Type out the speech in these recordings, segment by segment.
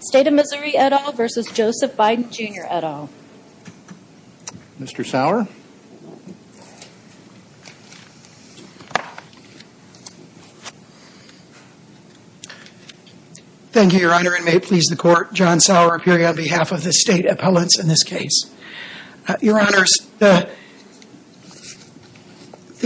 State of Missouri, et al. v. Joseph Biden, Jr., et al. Mr. Sauer. Thank you, Your Honor, and may it please the Court, John Sauer appearing on behalf of the State Appellants in this case. Your Honors, the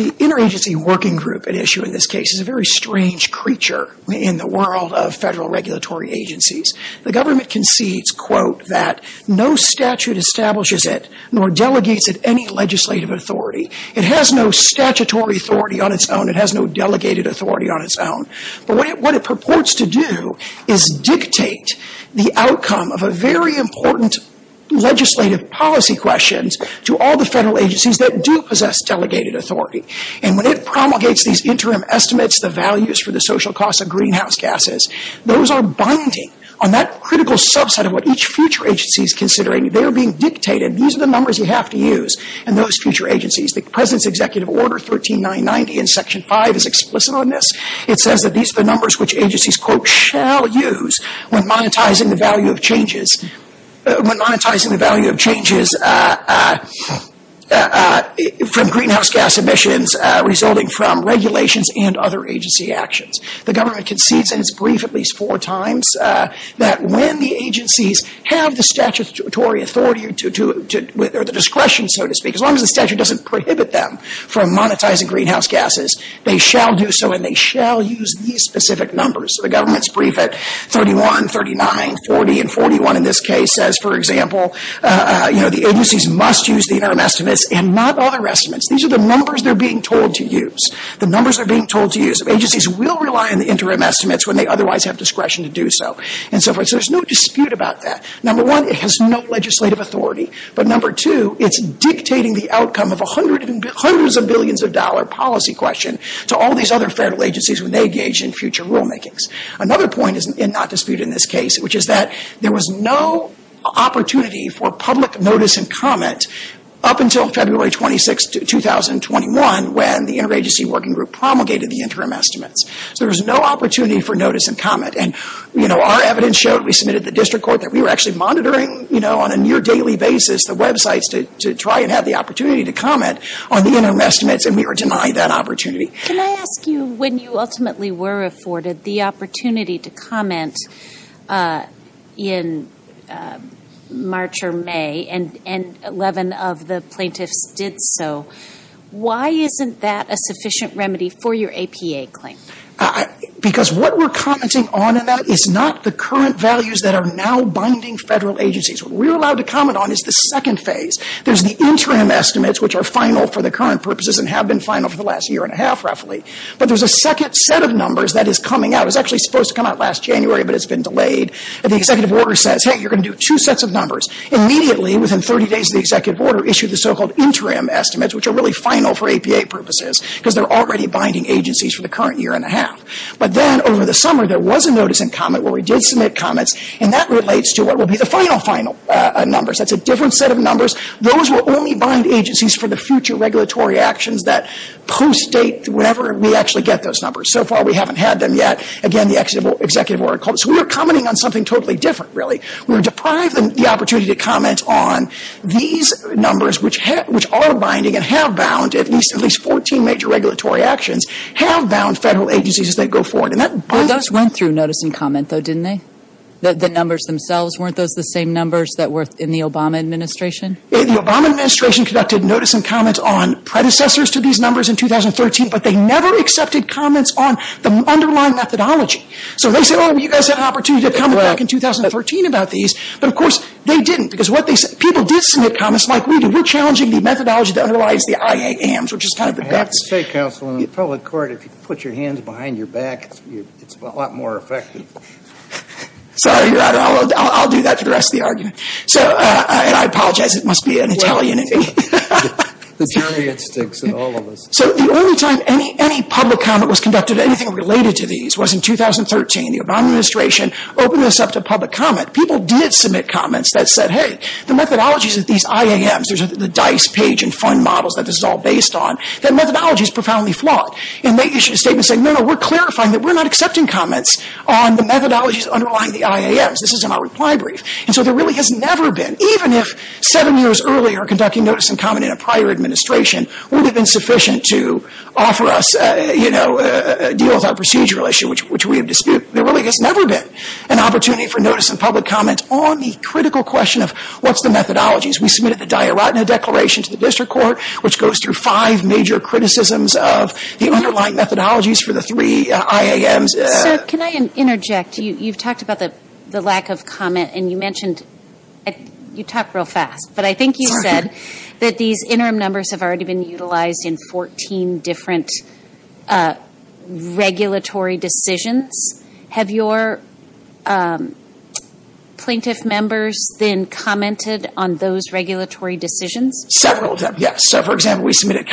Interagency Working Group at issue in this case is a very strange creature in the world of federal regulatory agencies. The government concedes, quote, that no statute establishes it nor delegates it any legislative authority. It has no statutory authority on its own. It has no delegated authority on its own. But what it purports to do is dictate the outcome of a very important legislative policy question to all the federal agencies that do possess delegated authority. And when it promulgates these interim estimates, the values for the social costs of greenhouse gases, those are binding on that critical subset of what each future agency is considering. They are being dictated. These are the numbers you have to use in those future agencies. The President's Executive Order 13990 in Section 5 is explicit on this. It says that these are the numbers which agencies, quote, shall use when monetizing the value of changes when monetizing the value of changes from greenhouse gas emissions resulting from regulations and other agency actions. The government concedes in its brief at least four times that when the agencies have the statutory authority or the discretion, so to speak, as long as the statute doesn't prohibit them from monetizing greenhouse gases, they shall do so and they shall use these specific numbers. So the government's brief at 31, 39, 40, and 41 in this case says, for example, you know, the agencies must use the interim estimates and not other estimates. These are the numbers they're being told to use, the numbers they're being told to use. Agencies will rely on the interim estimates when they otherwise have discretion to do so and so forth. So there's no dispute about that. Number one, it has no legislative authority. But number two, it's dictating the outcome of hundreds of billions of dollar policy question to all these other federal agencies when they engage in future rulemakings. Another point is not disputed in this case, which is that there was no opportunity for public notice and comment up until February 26, 2021, when the Interagency Working Group promulgated the interim estimates. So there was no opportunity for notice and comment. And, you know, our evidence showed, we submitted to the district court, that we were actually monitoring, you know, on a near daily basis the websites to try and have the opportunity to comment on the interim estimates, and we were denied that opportunity. Can I ask you, when you ultimately were afforded the opportunity to comment in March or May, and 11 of the plaintiffs did so, why isn't that a sufficient remedy for your APA claim? Because what we're commenting on in that is not the current values that are now binding federal agencies. What we're allowed to comment on is the second phase. There's the interim estimates, which are final for the current purposes and have been final for the last year and a half, roughly. But there's a second set of numbers that is coming out. It was actually supposed to come out last January, but it's been delayed. And the executive order says, hey, you're going to do two sets of numbers. Immediately, within 30 days of the executive order, issued the so-called interim estimates, which are really final for APA purposes, because they're already binding agencies for the current year and a half. But then, over the summer, there was a notice in comment where we did submit comments, and that relates to what will be the final, final numbers. That's a different set of numbers. Those will only bind agencies for the future regulatory actions that post-date whenever we actually get those numbers. So far, we haven't had them yet. Again, the executive order calls. So we were commenting on something totally different, really. We were deprived of the opportunity to comment on these numbers, which are binding and have bound at least 14 major regulatory actions, have bound federal agencies as they go forward. Those went through notice and comment, though, didn't they? The numbers themselves, weren't those the same numbers that were in the Obama administration? The Obama administration conducted notice and comments on predecessors to these numbers in 2013, but they never accepted comments on the underlying methodology. So they said, oh, you guys had an opportunity to comment back in 2013 about these. But, of course, they didn't, because people did submit comments, like we did. We're challenging the methodology that underlies the IAMs, which is kind of the guts. I have to say, counsel, in the public court, if you put your hands behind your back, it's a lot more effective. Sorry, Your Honor. I'll do that for the rest of the argument. And I apologize. It must be an Italian in me. The jury instincts in all of us. So the only time any public comment was conducted, anything related to these, was in 2013. The Obama administration opened this up to public comment. People did submit comments that said, hey, the methodologies of these IAMs, the DICE page and fund models that this is all based on, that methodology is profoundly flawed. And they issued a statement saying, no, no, we're clarifying that we're not accepting comments on the methodologies underlying the IAMs. This is in our reply brief. And so there really has never been, even if seven years earlier, we were conducting notice and comment in a prior administration, would have been sufficient to offer us a deal with our procedural issue, which we have disputed. There really has never been an opportunity for notice and public comment on the critical question of, what's the methodologies? We submitted the Dyer-Ratner Declaration to the district court, which goes through five major criticisms of the underlying methodologies for the three IAMs. Sir, can I interject? You've talked about the lack of comment. And you mentioned, you talk real fast. But I think you said that these interim numbers have already been utilized in 14 different regulatory decisions. Have your plaintiff members then commented on those regulatory decisions? Several of them, yes. So, for example, we've submitted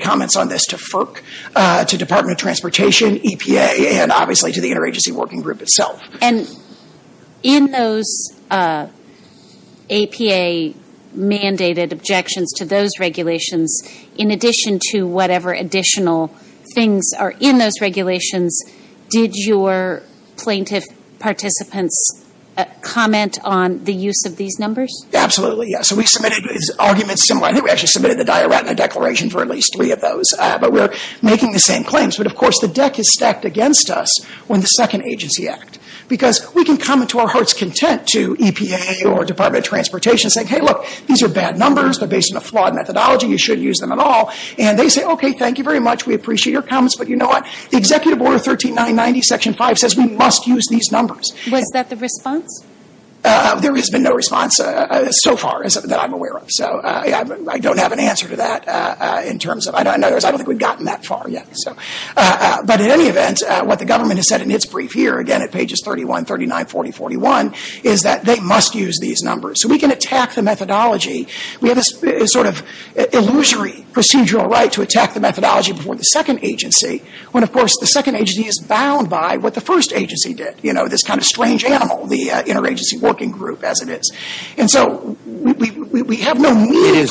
comments on this to FERC, to Department of Transportation, EPA, and obviously to the Interagency Working Group itself. And in those EPA-mandated objections to those regulations, in addition to whatever additional things are in those regulations, did your plaintiff participants comment on the use of these numbers? Absolutely, yes. We submitted arguments similar. I think we actually submitted the Dyer-Ratner Declaration for at least three of those. But we're making the same claims. But, of course, the deck is stacked against us when the second agency act. Because we can comment to our heart's content to EPA or Department of Transportation, saying, hey, look, these are bad numbers. They're based on a flawed methodology. You shouldn't use them at all. And they say, okay, thank you very much. We appreciate your comments. But you know what? The Executive Order 13990, Section 5, says we must use these numbers. Was that the response? There has been no response so far that I'm aware of. So I don't have an answer to that in terms of – in other words, I don't think we've gotten that far yet. But in any event, what the government has said in its brief here, again, at pages 31, 39, 40, 41, is that they must use these numbers. So we can attack the methodology. We have this sort of illusory procedural right to attack the methodology before the second agency, when, of course, the second agency is bound by what the first agency did, you know, this kind of strange animal, the interagency working group as it is. And so we have no need – A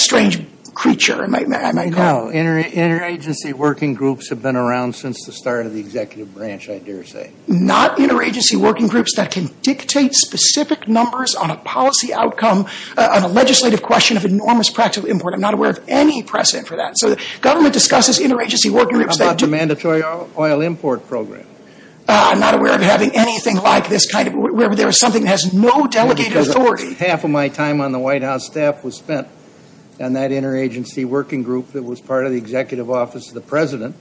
strange creature, I might call it. No, interagency working groups have been around since the start of the executive branch, I dare say. Not interagency working groups that can dictate specific numbers on a policy outcome, on a legislative question of enormous practical import. I'm not aware of any precedent for that. So the government discusses interagency working groups that do – What about the mandatory oil import program? I'm not aware of having anything like this kind of – where there is something that has no delegated authority. Half of my time on the White House staff was spent on that interagency working group that was part of the executive office of the President,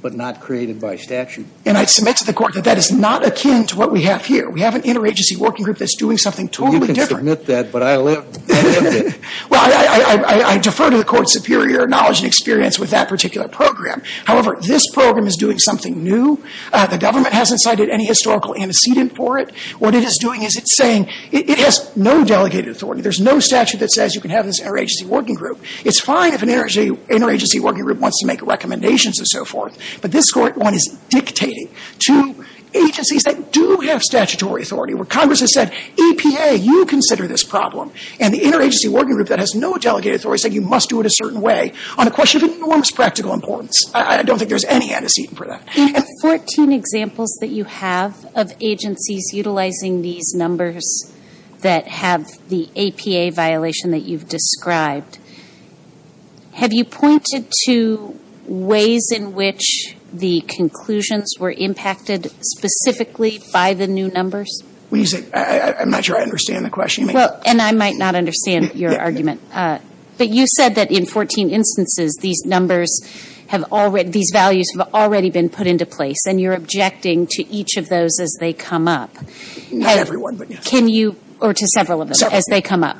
but not created by statute. And I submit to the Court that that is not akin to what we have here. We have an interagency working group that's doing something totally different. You can submit that, but I lived it. Well, I defer to the Court's superior knowledge and experience with that particular program. However, this program is doing something new. The government hasn't cited any historical antecedent for it. What it is doing is it's saying it has no delegated authority. There's no statute that says you can have this interagency working group. It's fine if an interagency working group wants to make recommendations and so forth, but this one is dictating to agencies that do have statutory authority, where Congress has said, EPA, you consider this problem. And the interagency working group that has no delegated authority said you must do it a certain way on a question of enormous practical importance. I don't think there's any antecedent for that. In the 14 examples that you have of agencies utilizing these numbers that have the APA violation that you've described, have you pointed to ways in which the conclusions were impacted specifically by the new numbers? I'm not sure I understand the question. And I might not understand your argument. But you said that in 14 instances, these values have already been put into place, and you're objecting to each of those as they come up. Not every one, but yes. Or to several of them as they come up.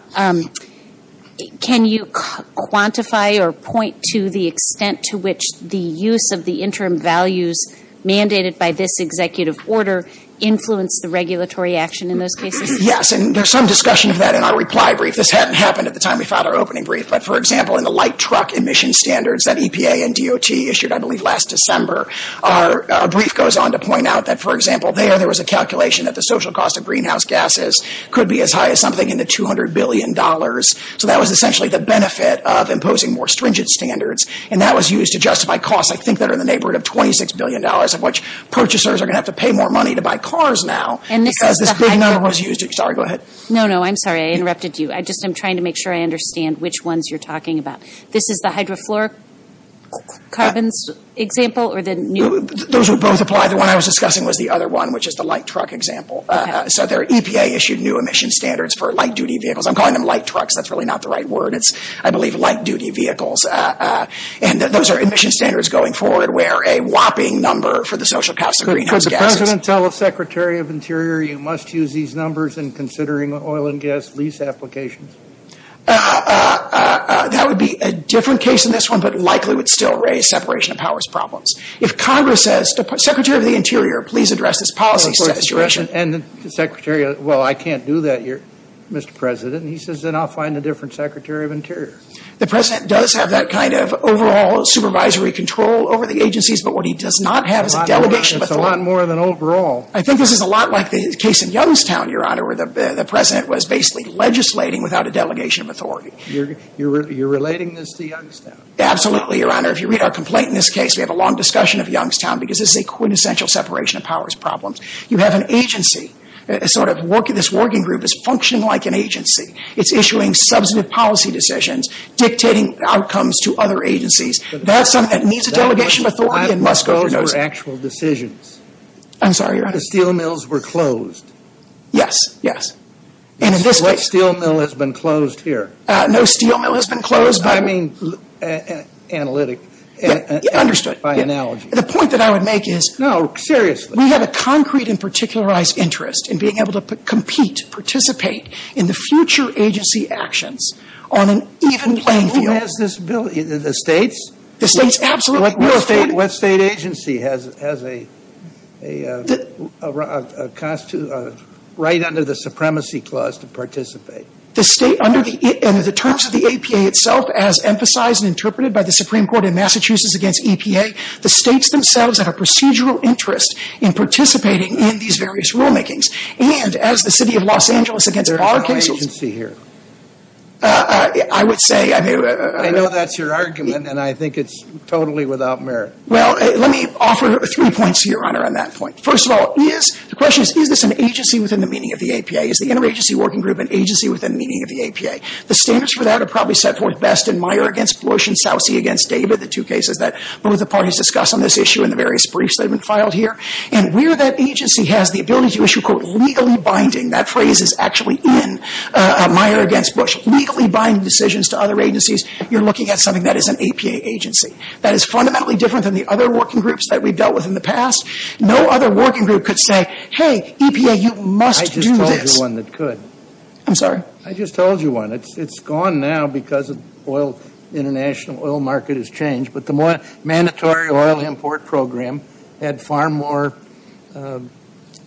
Can you quantify or point to the extent to which the use of the interim values mandated by this executive order influenced the regulatory action in those cases? Yes, and there's some discussion of that in our reply brief. This hadn't happened at the time we filed our opening brief. But, for example, in the light truck emission standards that EPA and DOT issued, I believe, last December, our brief goes on to point out that, for example, there there was a calculation that the social cost of greenhouse gases could be as high as something in the $200 billion. So that was essentially the benefit of imposing more stringent standards. And that was used to justify costs I think that are in the neighborhood of $26 billion, of which purchasers are going to have to pay more money to buy cars now. And this is the high point. Sorry, go ahead. No, no, I'm sorry, I interrupted you. I just am trying to make sure I understand which ones you're talking about. This is the hydrofluoric carbons example? Those would both apply. The one I was discussing was the other one, which is the light truck example. So EPA issued new emission standards for light-duty vehicles. I'm calling them light trucks. That's really not the right word. It's, I believe, light-duty vehicles. And those are emission standards going forward where a whopping number for the social cost of greenhouse gases. Could the President tell the Secretary of Interior you must use these numbers in considering oil and gas lease applications? That would be a different case than this one, but likely would still raise separation of powers problems. If Congress says, Secretary of the Interior, please address this policy situation. And the Secretary, well, I can't do that, Mr. President. He says, then I'll find a different Secretary of Interior. The President does have that kind of overall supervisory control over the agencies, but what he does not have is a delegation of authority. It's a lot more than overall. I think this is a lot like the case in Youngstown, Your Honor, where the President was basically legislating without a delegation of authority. You're relating this to Youngstown? Absolutely, Your Honor. If you read our complaint in this case, we have a long discussion of Youngstown because this is a quintessential separation of powers problem. You have an agency, sort of this working group is functioning like an agency. It's issuing substantive policy decisions, dictating outcomes to other agencies. That's something that needs a delegation of authority and must go through those. That goes for actual decisions. I'm sorry, Your Honor. The steel mills were closed. Yes, yes. And in this case... No steel mill has been closed here. No steel mill has been closed... I mean analytic. Understood. By analogy. The point that I would make is... No, seriously. We have a concrete and particularized interest in being able to compete, participate in the future agency actions on an even playing field. Who has this ability? The states? The states, absolutely. What state agency has a right under the supremacy clause to participate? The state, under the terms of the APA itself, as emphasized and interpreted by the Supreme Court in Massachusetts against EPA, the states themselves have a procedural interest in participating in these various rulemakings. And as the city of Los Angeles against Arkansas... What agency here? I would say... Well, let me offer three points, Your Honor, on that point. First of all, is... The question is... Is this an agency within the meaning of the APA? Is the interagency working group an agency within the meaning of the APA? The standards for that are probably set forth best in Meyer against Bush and Saucy against David, the two cases that both the parties discussed on this issue in the various briefs that have been filed here. And where that agency has the ability to issue, quote, legally binding... That phrase is actually in Meyer against Bush. Legally binding decisions to other agencies, you're looking at something that is an APA agency. That is fundamentally different than the other working groups that we've dealt with in the past. No other working group could say, hey, EPA, you must do this. I just told you one that could. I'm sorry? I just told you one. It's gone now because of oil... International oil market has changed. But the mandatory oil import program had far more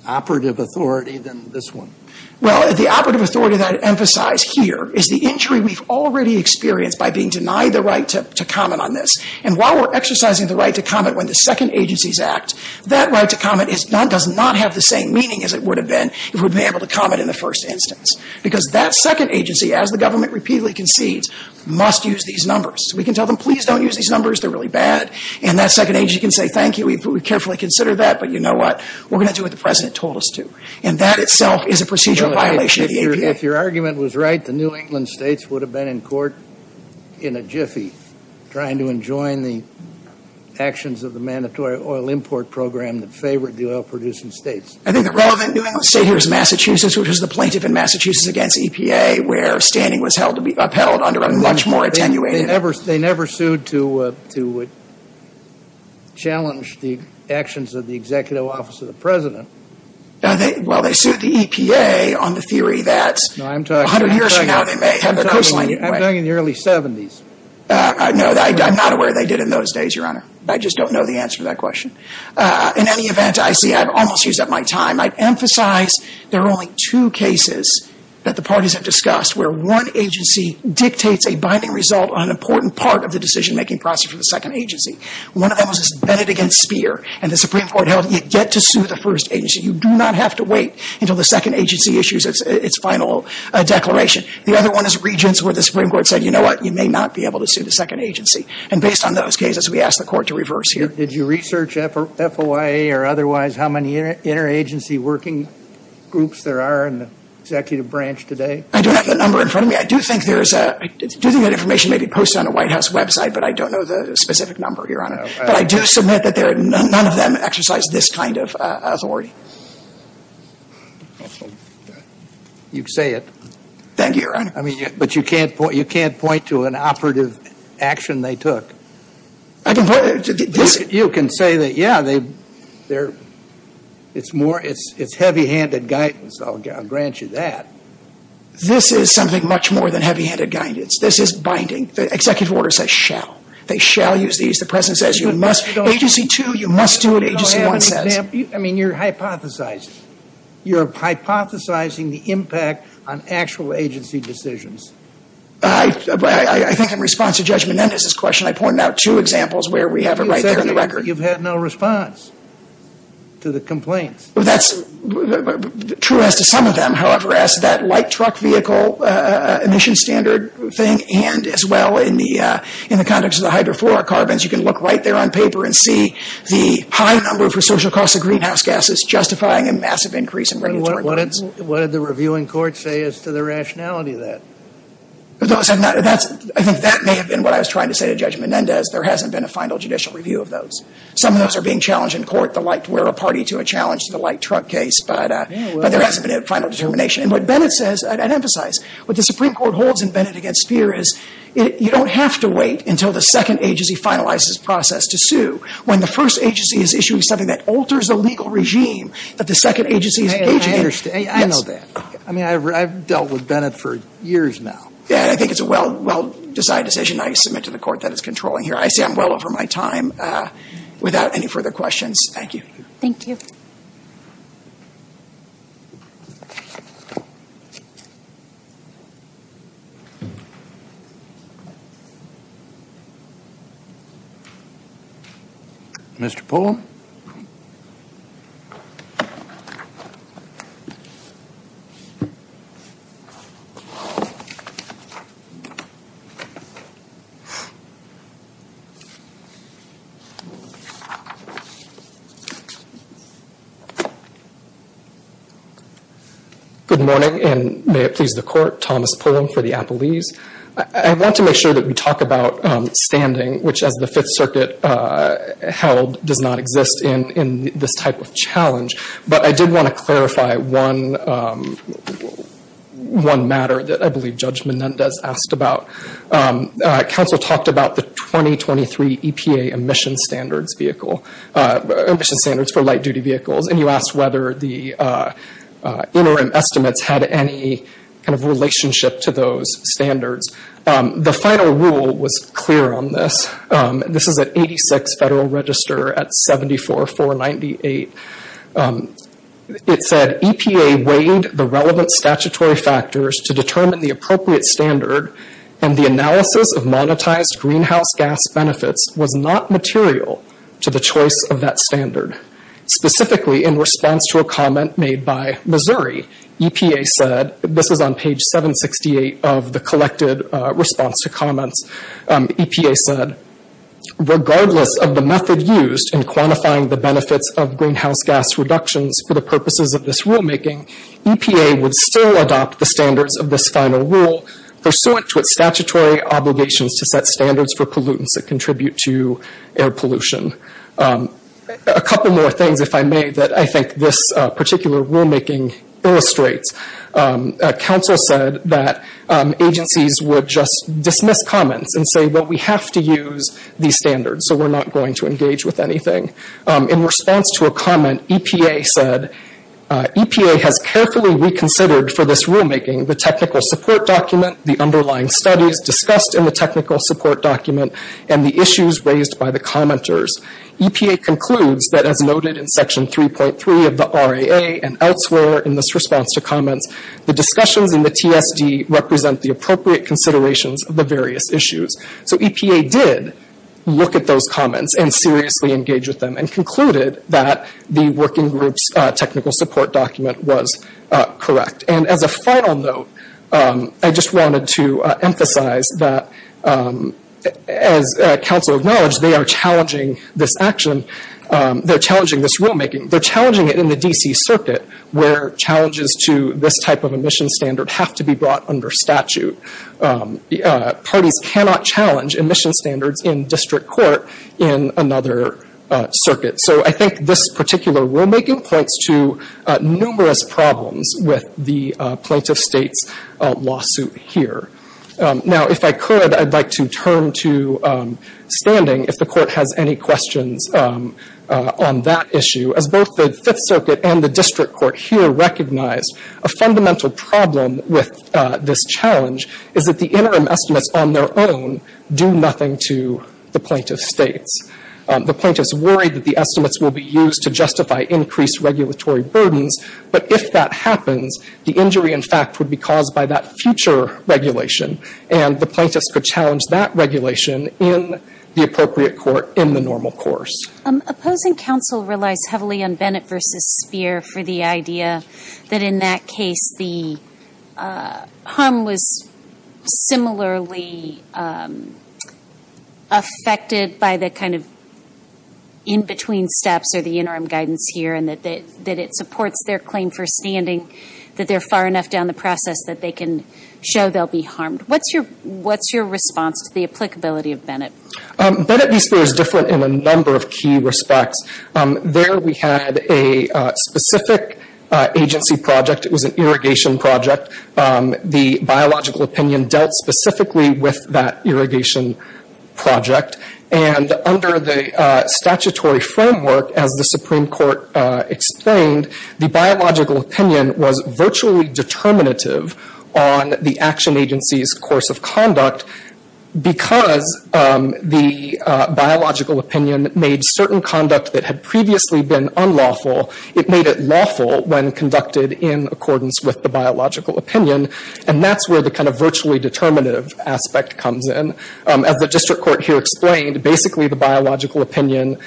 operative authority than this one. Well, the operative authority that I emphasize here is the injury we've already experienced by being denied the right to comment on this. And while we're exercising the right to comment when the second agencies act, that right to comment does not have the same meaning as it would have been if we'd been able to comment in the first instance. Because that second agency, as the government repeatedly concedes, must use these numbers. We can tell them, please don't use these numbers. They're really bad. And that second agency can say, thank you. We carefully consider that. But you know what? We're going to do what the President told us to. And that itself is a procedural violation of the APA. If your argument was right, the New England states would have been in court in a jiffy trying to enjoin the actions of the mandatory oil import program that favored the oil-producing states. I think the relevant New England state here is Massachusetts, which is the plaintiff in Massachusetts against EPA, where standing was upheld under a much more attenuated... They never sued to challenge the actions of the executive office of the President. Well, they sued the EPA on the theory that... No, I'm talking... A hundred years from now, they may have their coastline... I'm talking in the early 70s. No, I'm not aware they did in those days, Your Honor. I just don't know the answer to that question. In any event, I see I've almost used up my time. I'd emphasize there are only two cases that the parties have discussed where one agency dictates a binding result on an important part of the decision-making process for the second agency. One of them was this Bennet against Speer. And the Supreme Court held you get to sue the first agency. You do not have to wait until the second agency issues its final declaration. The other one is Regents where the Supreme Court said, you know what, you may not be able to sue the second agency. And based on those cases, we ask the Court to reverse here. Did you research FOIA or otherwise how many interagency working groups there are in the executive branch today? I don't have the number in front of me. I do think there is a... I do think that information may be posted on the White House website, but I don't know the specific number, Your Honor. But I do submit that none of them exercise this kind of authority. You say it. Thank you, Your Honor. But you can't point to an operative action they took. I can point... You can say that, yeah, it's heavy-handed guidance. I'll grant you that. This is something much more than heavy-handed guidance. This is binding. The executive order says shall. They shall use these. The President says you must. Agency 2, you must do what Agency 1 says. I mean, you're hypothesizing. You're hypothesizing the impact on actual agency decisions. I think in response to Judge Menendez's question, I pointed out two examples where we have it right there on the record. You've had no response to the complaints. That's true as to some of them. However, as to that light truck vehicle emission standard thing, and as well in the context of the hydrofluorocarbons, you can look right there on paper and see the high number for social costs of greenhouse gases justifying a massive increase in regulatory limits. What did the review in court say as to the rationality of that? I think that may have been what I was trying to say to Judge Menendez. There hasn't been a final judicial review of those. Some of those are being challenged in court, the like where a party to a challenge to the light truck case. But there hasn't been a final determination. And what Bennett says, I'd emphasize, what the Supreme Court holds in Bennett v. Speer is you don't have to wait until the second agency finalizes its process to sue when the first agency is issuing something that alters the legal regime that the second agency is engaging in. I understand. I know that. I mean, I've dealt with Bennett for years now. Yeah, I think it's a well-decided decision. I submit to the Court that it's controlling here. I say I'm well over my time. Without any further questions, thank you. Thank you. I want to make sure that we talk about standing, which as the Fifth Circuit held does not exist in this type of challenge. But I did want to clarify one matter that I believe Judge Menendez asked about. Council talked about the 2023 EPA emission standards vehicle, emission standards for light-duty vehicles. And you asked whether the interim estimates had any kind of relationship to those standards. The final rule was clear on this. This is at 86 Federal Register at 74498. It said EPA weighed the relevant statutory factors to determine the appropriate standard and the analysis of monetized greenhouse gas benefits was not material to the choice of that standard. Specifically, in response to a comment made by Missouri, EPA said, this is on page 768 of the collected response to comments, EPA said, regardless of the method used in quantifying the benefits of greenhouse gas reductions for the purposes of this rulemaking, EPA would still adopt the standards of this final rule pursuant to its statutory obligations to set standards for pollutants that contribute to air pollution. A couple more things, if I may, that I think this particular rulemaking illustrates. Council said that agencies would just dismiss comments and say, well, we have to use these standards, so we're not going to engage with anything. In response to a comment, EPA said, EPA has carefully reconsidered for this rulemaking the technical support document, the underlying studies discussed in the technical support document, and the issues raised by the commenters. EPA concludes that as noted in section 3.3 of the RAA and elsewhere in this response to comments, the discussions in the TSD represent the appropriate considerations of the various issues. So EPA did look at those comments and seriously engage with them and concluded that the working group's technical support document was correct. And as a final note, I just wanted to emphasize that, as Council acknowledged, they are challenging this action. They're challenging this rulemaking. They're challenging it in the D.C. Circuit where challenges to this type of emission standard have to be brought under statute. Parties cannot challenge emission standards in district court in another circuit. So I think this particular rulemaking points to numerous problems with the plaintiff state's lawsuit here. Now, if I could, I'd like to turn to standing, if the Court has any questions on that issue. As both the Fifth Circuit and the district court here recognize, a fundamental problem with this challenge is that the interim estimates on their own do nothing to the plaintiff states. The plaintiffs worry that the estimates will be used to justify increased regulatory burdens, but if that happens, the injury, in fact, would be caused by that future regulation, and the plaintiffs could challenge that regulation in the appropriate court in the normal course. Opposing counsel relies heavily on Bennett v. Speer for the idea that, in that case, the harm was similarly affected by the kind of in-between steps or the interim guidance here, and that it supports their claim for standing, that they're far enough down the process that they can show they'll be harmed. What's your response to the applicability of Bennett? Bennett v. Speer is different in a number of key respects. There we had a specific agency project. It was an irrigation project. The biological opinion dealt specifically with that irrigation project, and under the statutory framework, as the Supreme Court explained, the biological opinion was virtually determinative on the action agency's course of conduct because the biological opinion made certain conduct that had previously been unlawful, it made it lawful when conducted in accordance with the biological opinion, and that's where the kind of virtually determinative aspect comes in. As the district court here explained, basically the biological opinion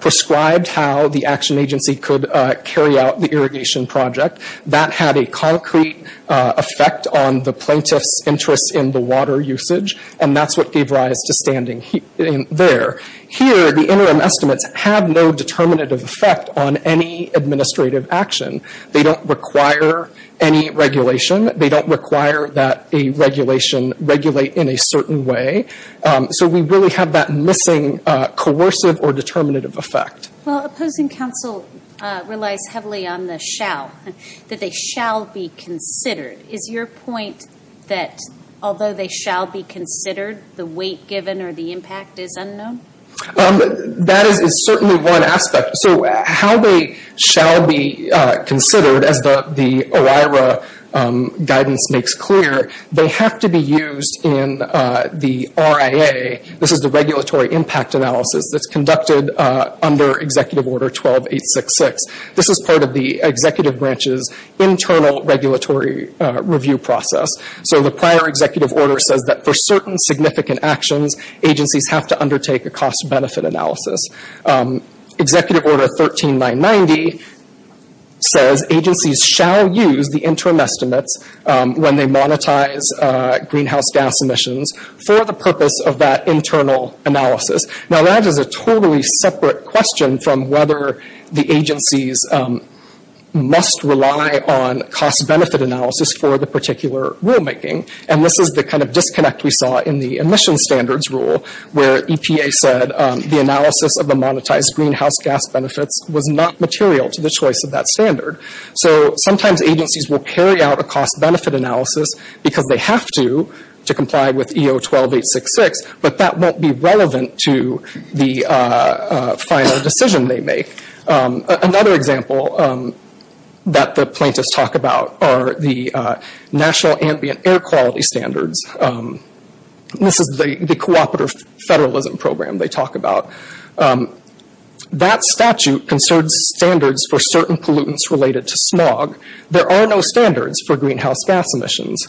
prescribed how the action agency could carry out the irrigation project. That had a concrete effect on the plaintiff's interest in the water usage, and that's what gave rise to standing there. Here, the interim estimates have no determinative effect on any administrative action. They don't require any regulation. They don't require that a regulation regulate in a certain way, so we really have that missing coercive or determinative effect. Well, opposing counsel relies heavily on the shall, that they shall be considered. Is your point that although they shall be considered, the weight given or the impact is unknown? That is certainly one aspect. So how they shall be considered, as the OIRA guidance makes clear, they have to be used in the RIA. This is the regulatory impact analysis that's conducted under Executive Order 12866. This is part of the executive branch's internal regulatory review process. So the prior executive order says that for certain significant actions, agencies have to undertake a cost-benefit analysis. Executive Order 13990 says agencies shall use the interim estimates when they monetize greenhouse gas emissions for the purpose of that internal analysis. Now, that is a totally separate question from whether the agencies must rely on cost-benefit analysis for the particular rulemaking. And this is the kind of disconnect we saw in the emission standards rule, where EPA said the analysis of the monetized greenhouse gas benefits was not material to the choice of that standard. So sometimes agencies will carry out a cost-benefit analysis because they have to, to comply with EO 12866, but that won't be relevant to the final decision they make. Another example that the plaintiffs talk about are the national ambient air quality standards. This is the cooperative federalism program they talk about. That statute concerns standards for certain pollutants related to smog. There are no standards for greenhouse gas emissions.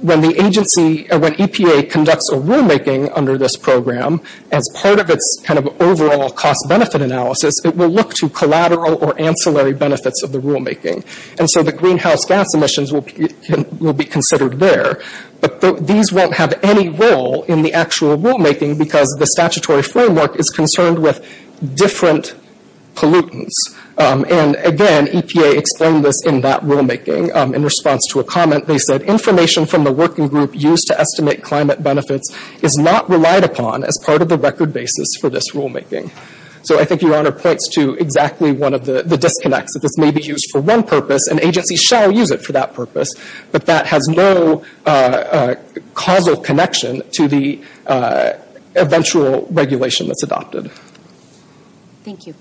When the agency, when EPA conducts a rulemaking under this program, as part of its kind of overall cost-benefit analysis, it will look to collateral or ancillary benefits of the rulemaking. And so the greenhouse gas emissions will be considered there. But these won't have any role in the actual rulemaking because the statutory framework is concerned with different pollutants. And again, EPA explained this in that rulemaking. In response to a comment, they said, information from the working group used to estimate climate benefits is not relied upon as part of the record basis for this rulemaking. So I think Your Honor points to exactly one of the disconnects, that this may be used for one purpose and agencies shall use it for that purpose, but that has no causal connection to the eventual regulation that's adopted. Thank you.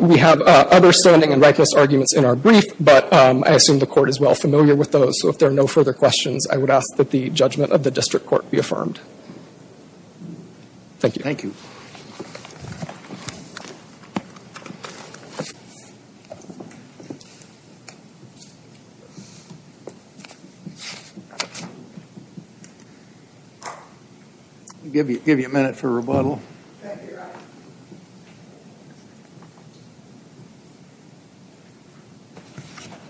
We have other standing and rightness arguments in our brief, but I assume the court is well familiar with those. So if there are no further questions, I would ask that the judgment of the district court be affirmed. Thank you. Thank you. Thank you. I'll give you a minute for rebuttal.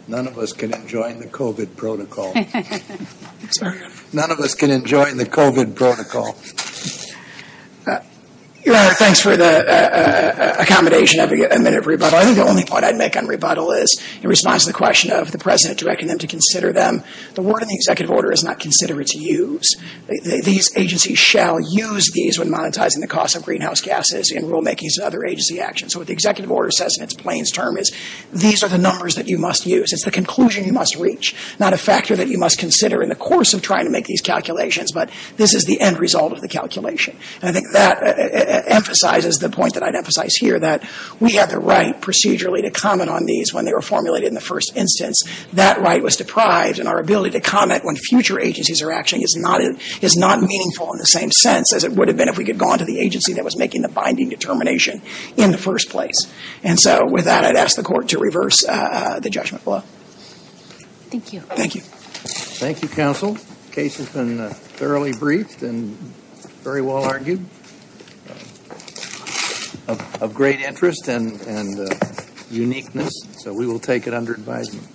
None of us can enjoy the COVID protocol. None of us can enjoy the COVID protocol. Your Honor, thanks for the accommodation of a minute of rebuttal. I think the only point I'd make on rebuttal is, in response to the question of the President directing them to consider them, the word in the executive order is not considered to use. These agencies shall use these when monetizing the cost of greenhouse gases and rulemakings and other agency actions. So what the executive order says in its plainsterm is, these are the numbers that you must use. It's the conclusion you must reach, not a factor that you must consider in the course of trying to make these calculations, but this is the end result of the calculation. And I think that emphasizes the point that I'd emphasize here, that we had the right procedurally to comment on these when they were formulated in the first instance. That right was deprived, and our ability to comment when future agencies are acting is not meaningful in the same sense as it would have been if we could have gone to the agency that was making the binding determination in the first place. And so with that, I'd ask the court to reverse the judgment law. Thank you. Thank you. Thank you, counsel. The case has been thoroughly briefed and very well argued. Of great interest and uniqueness, so we will take it under advisement.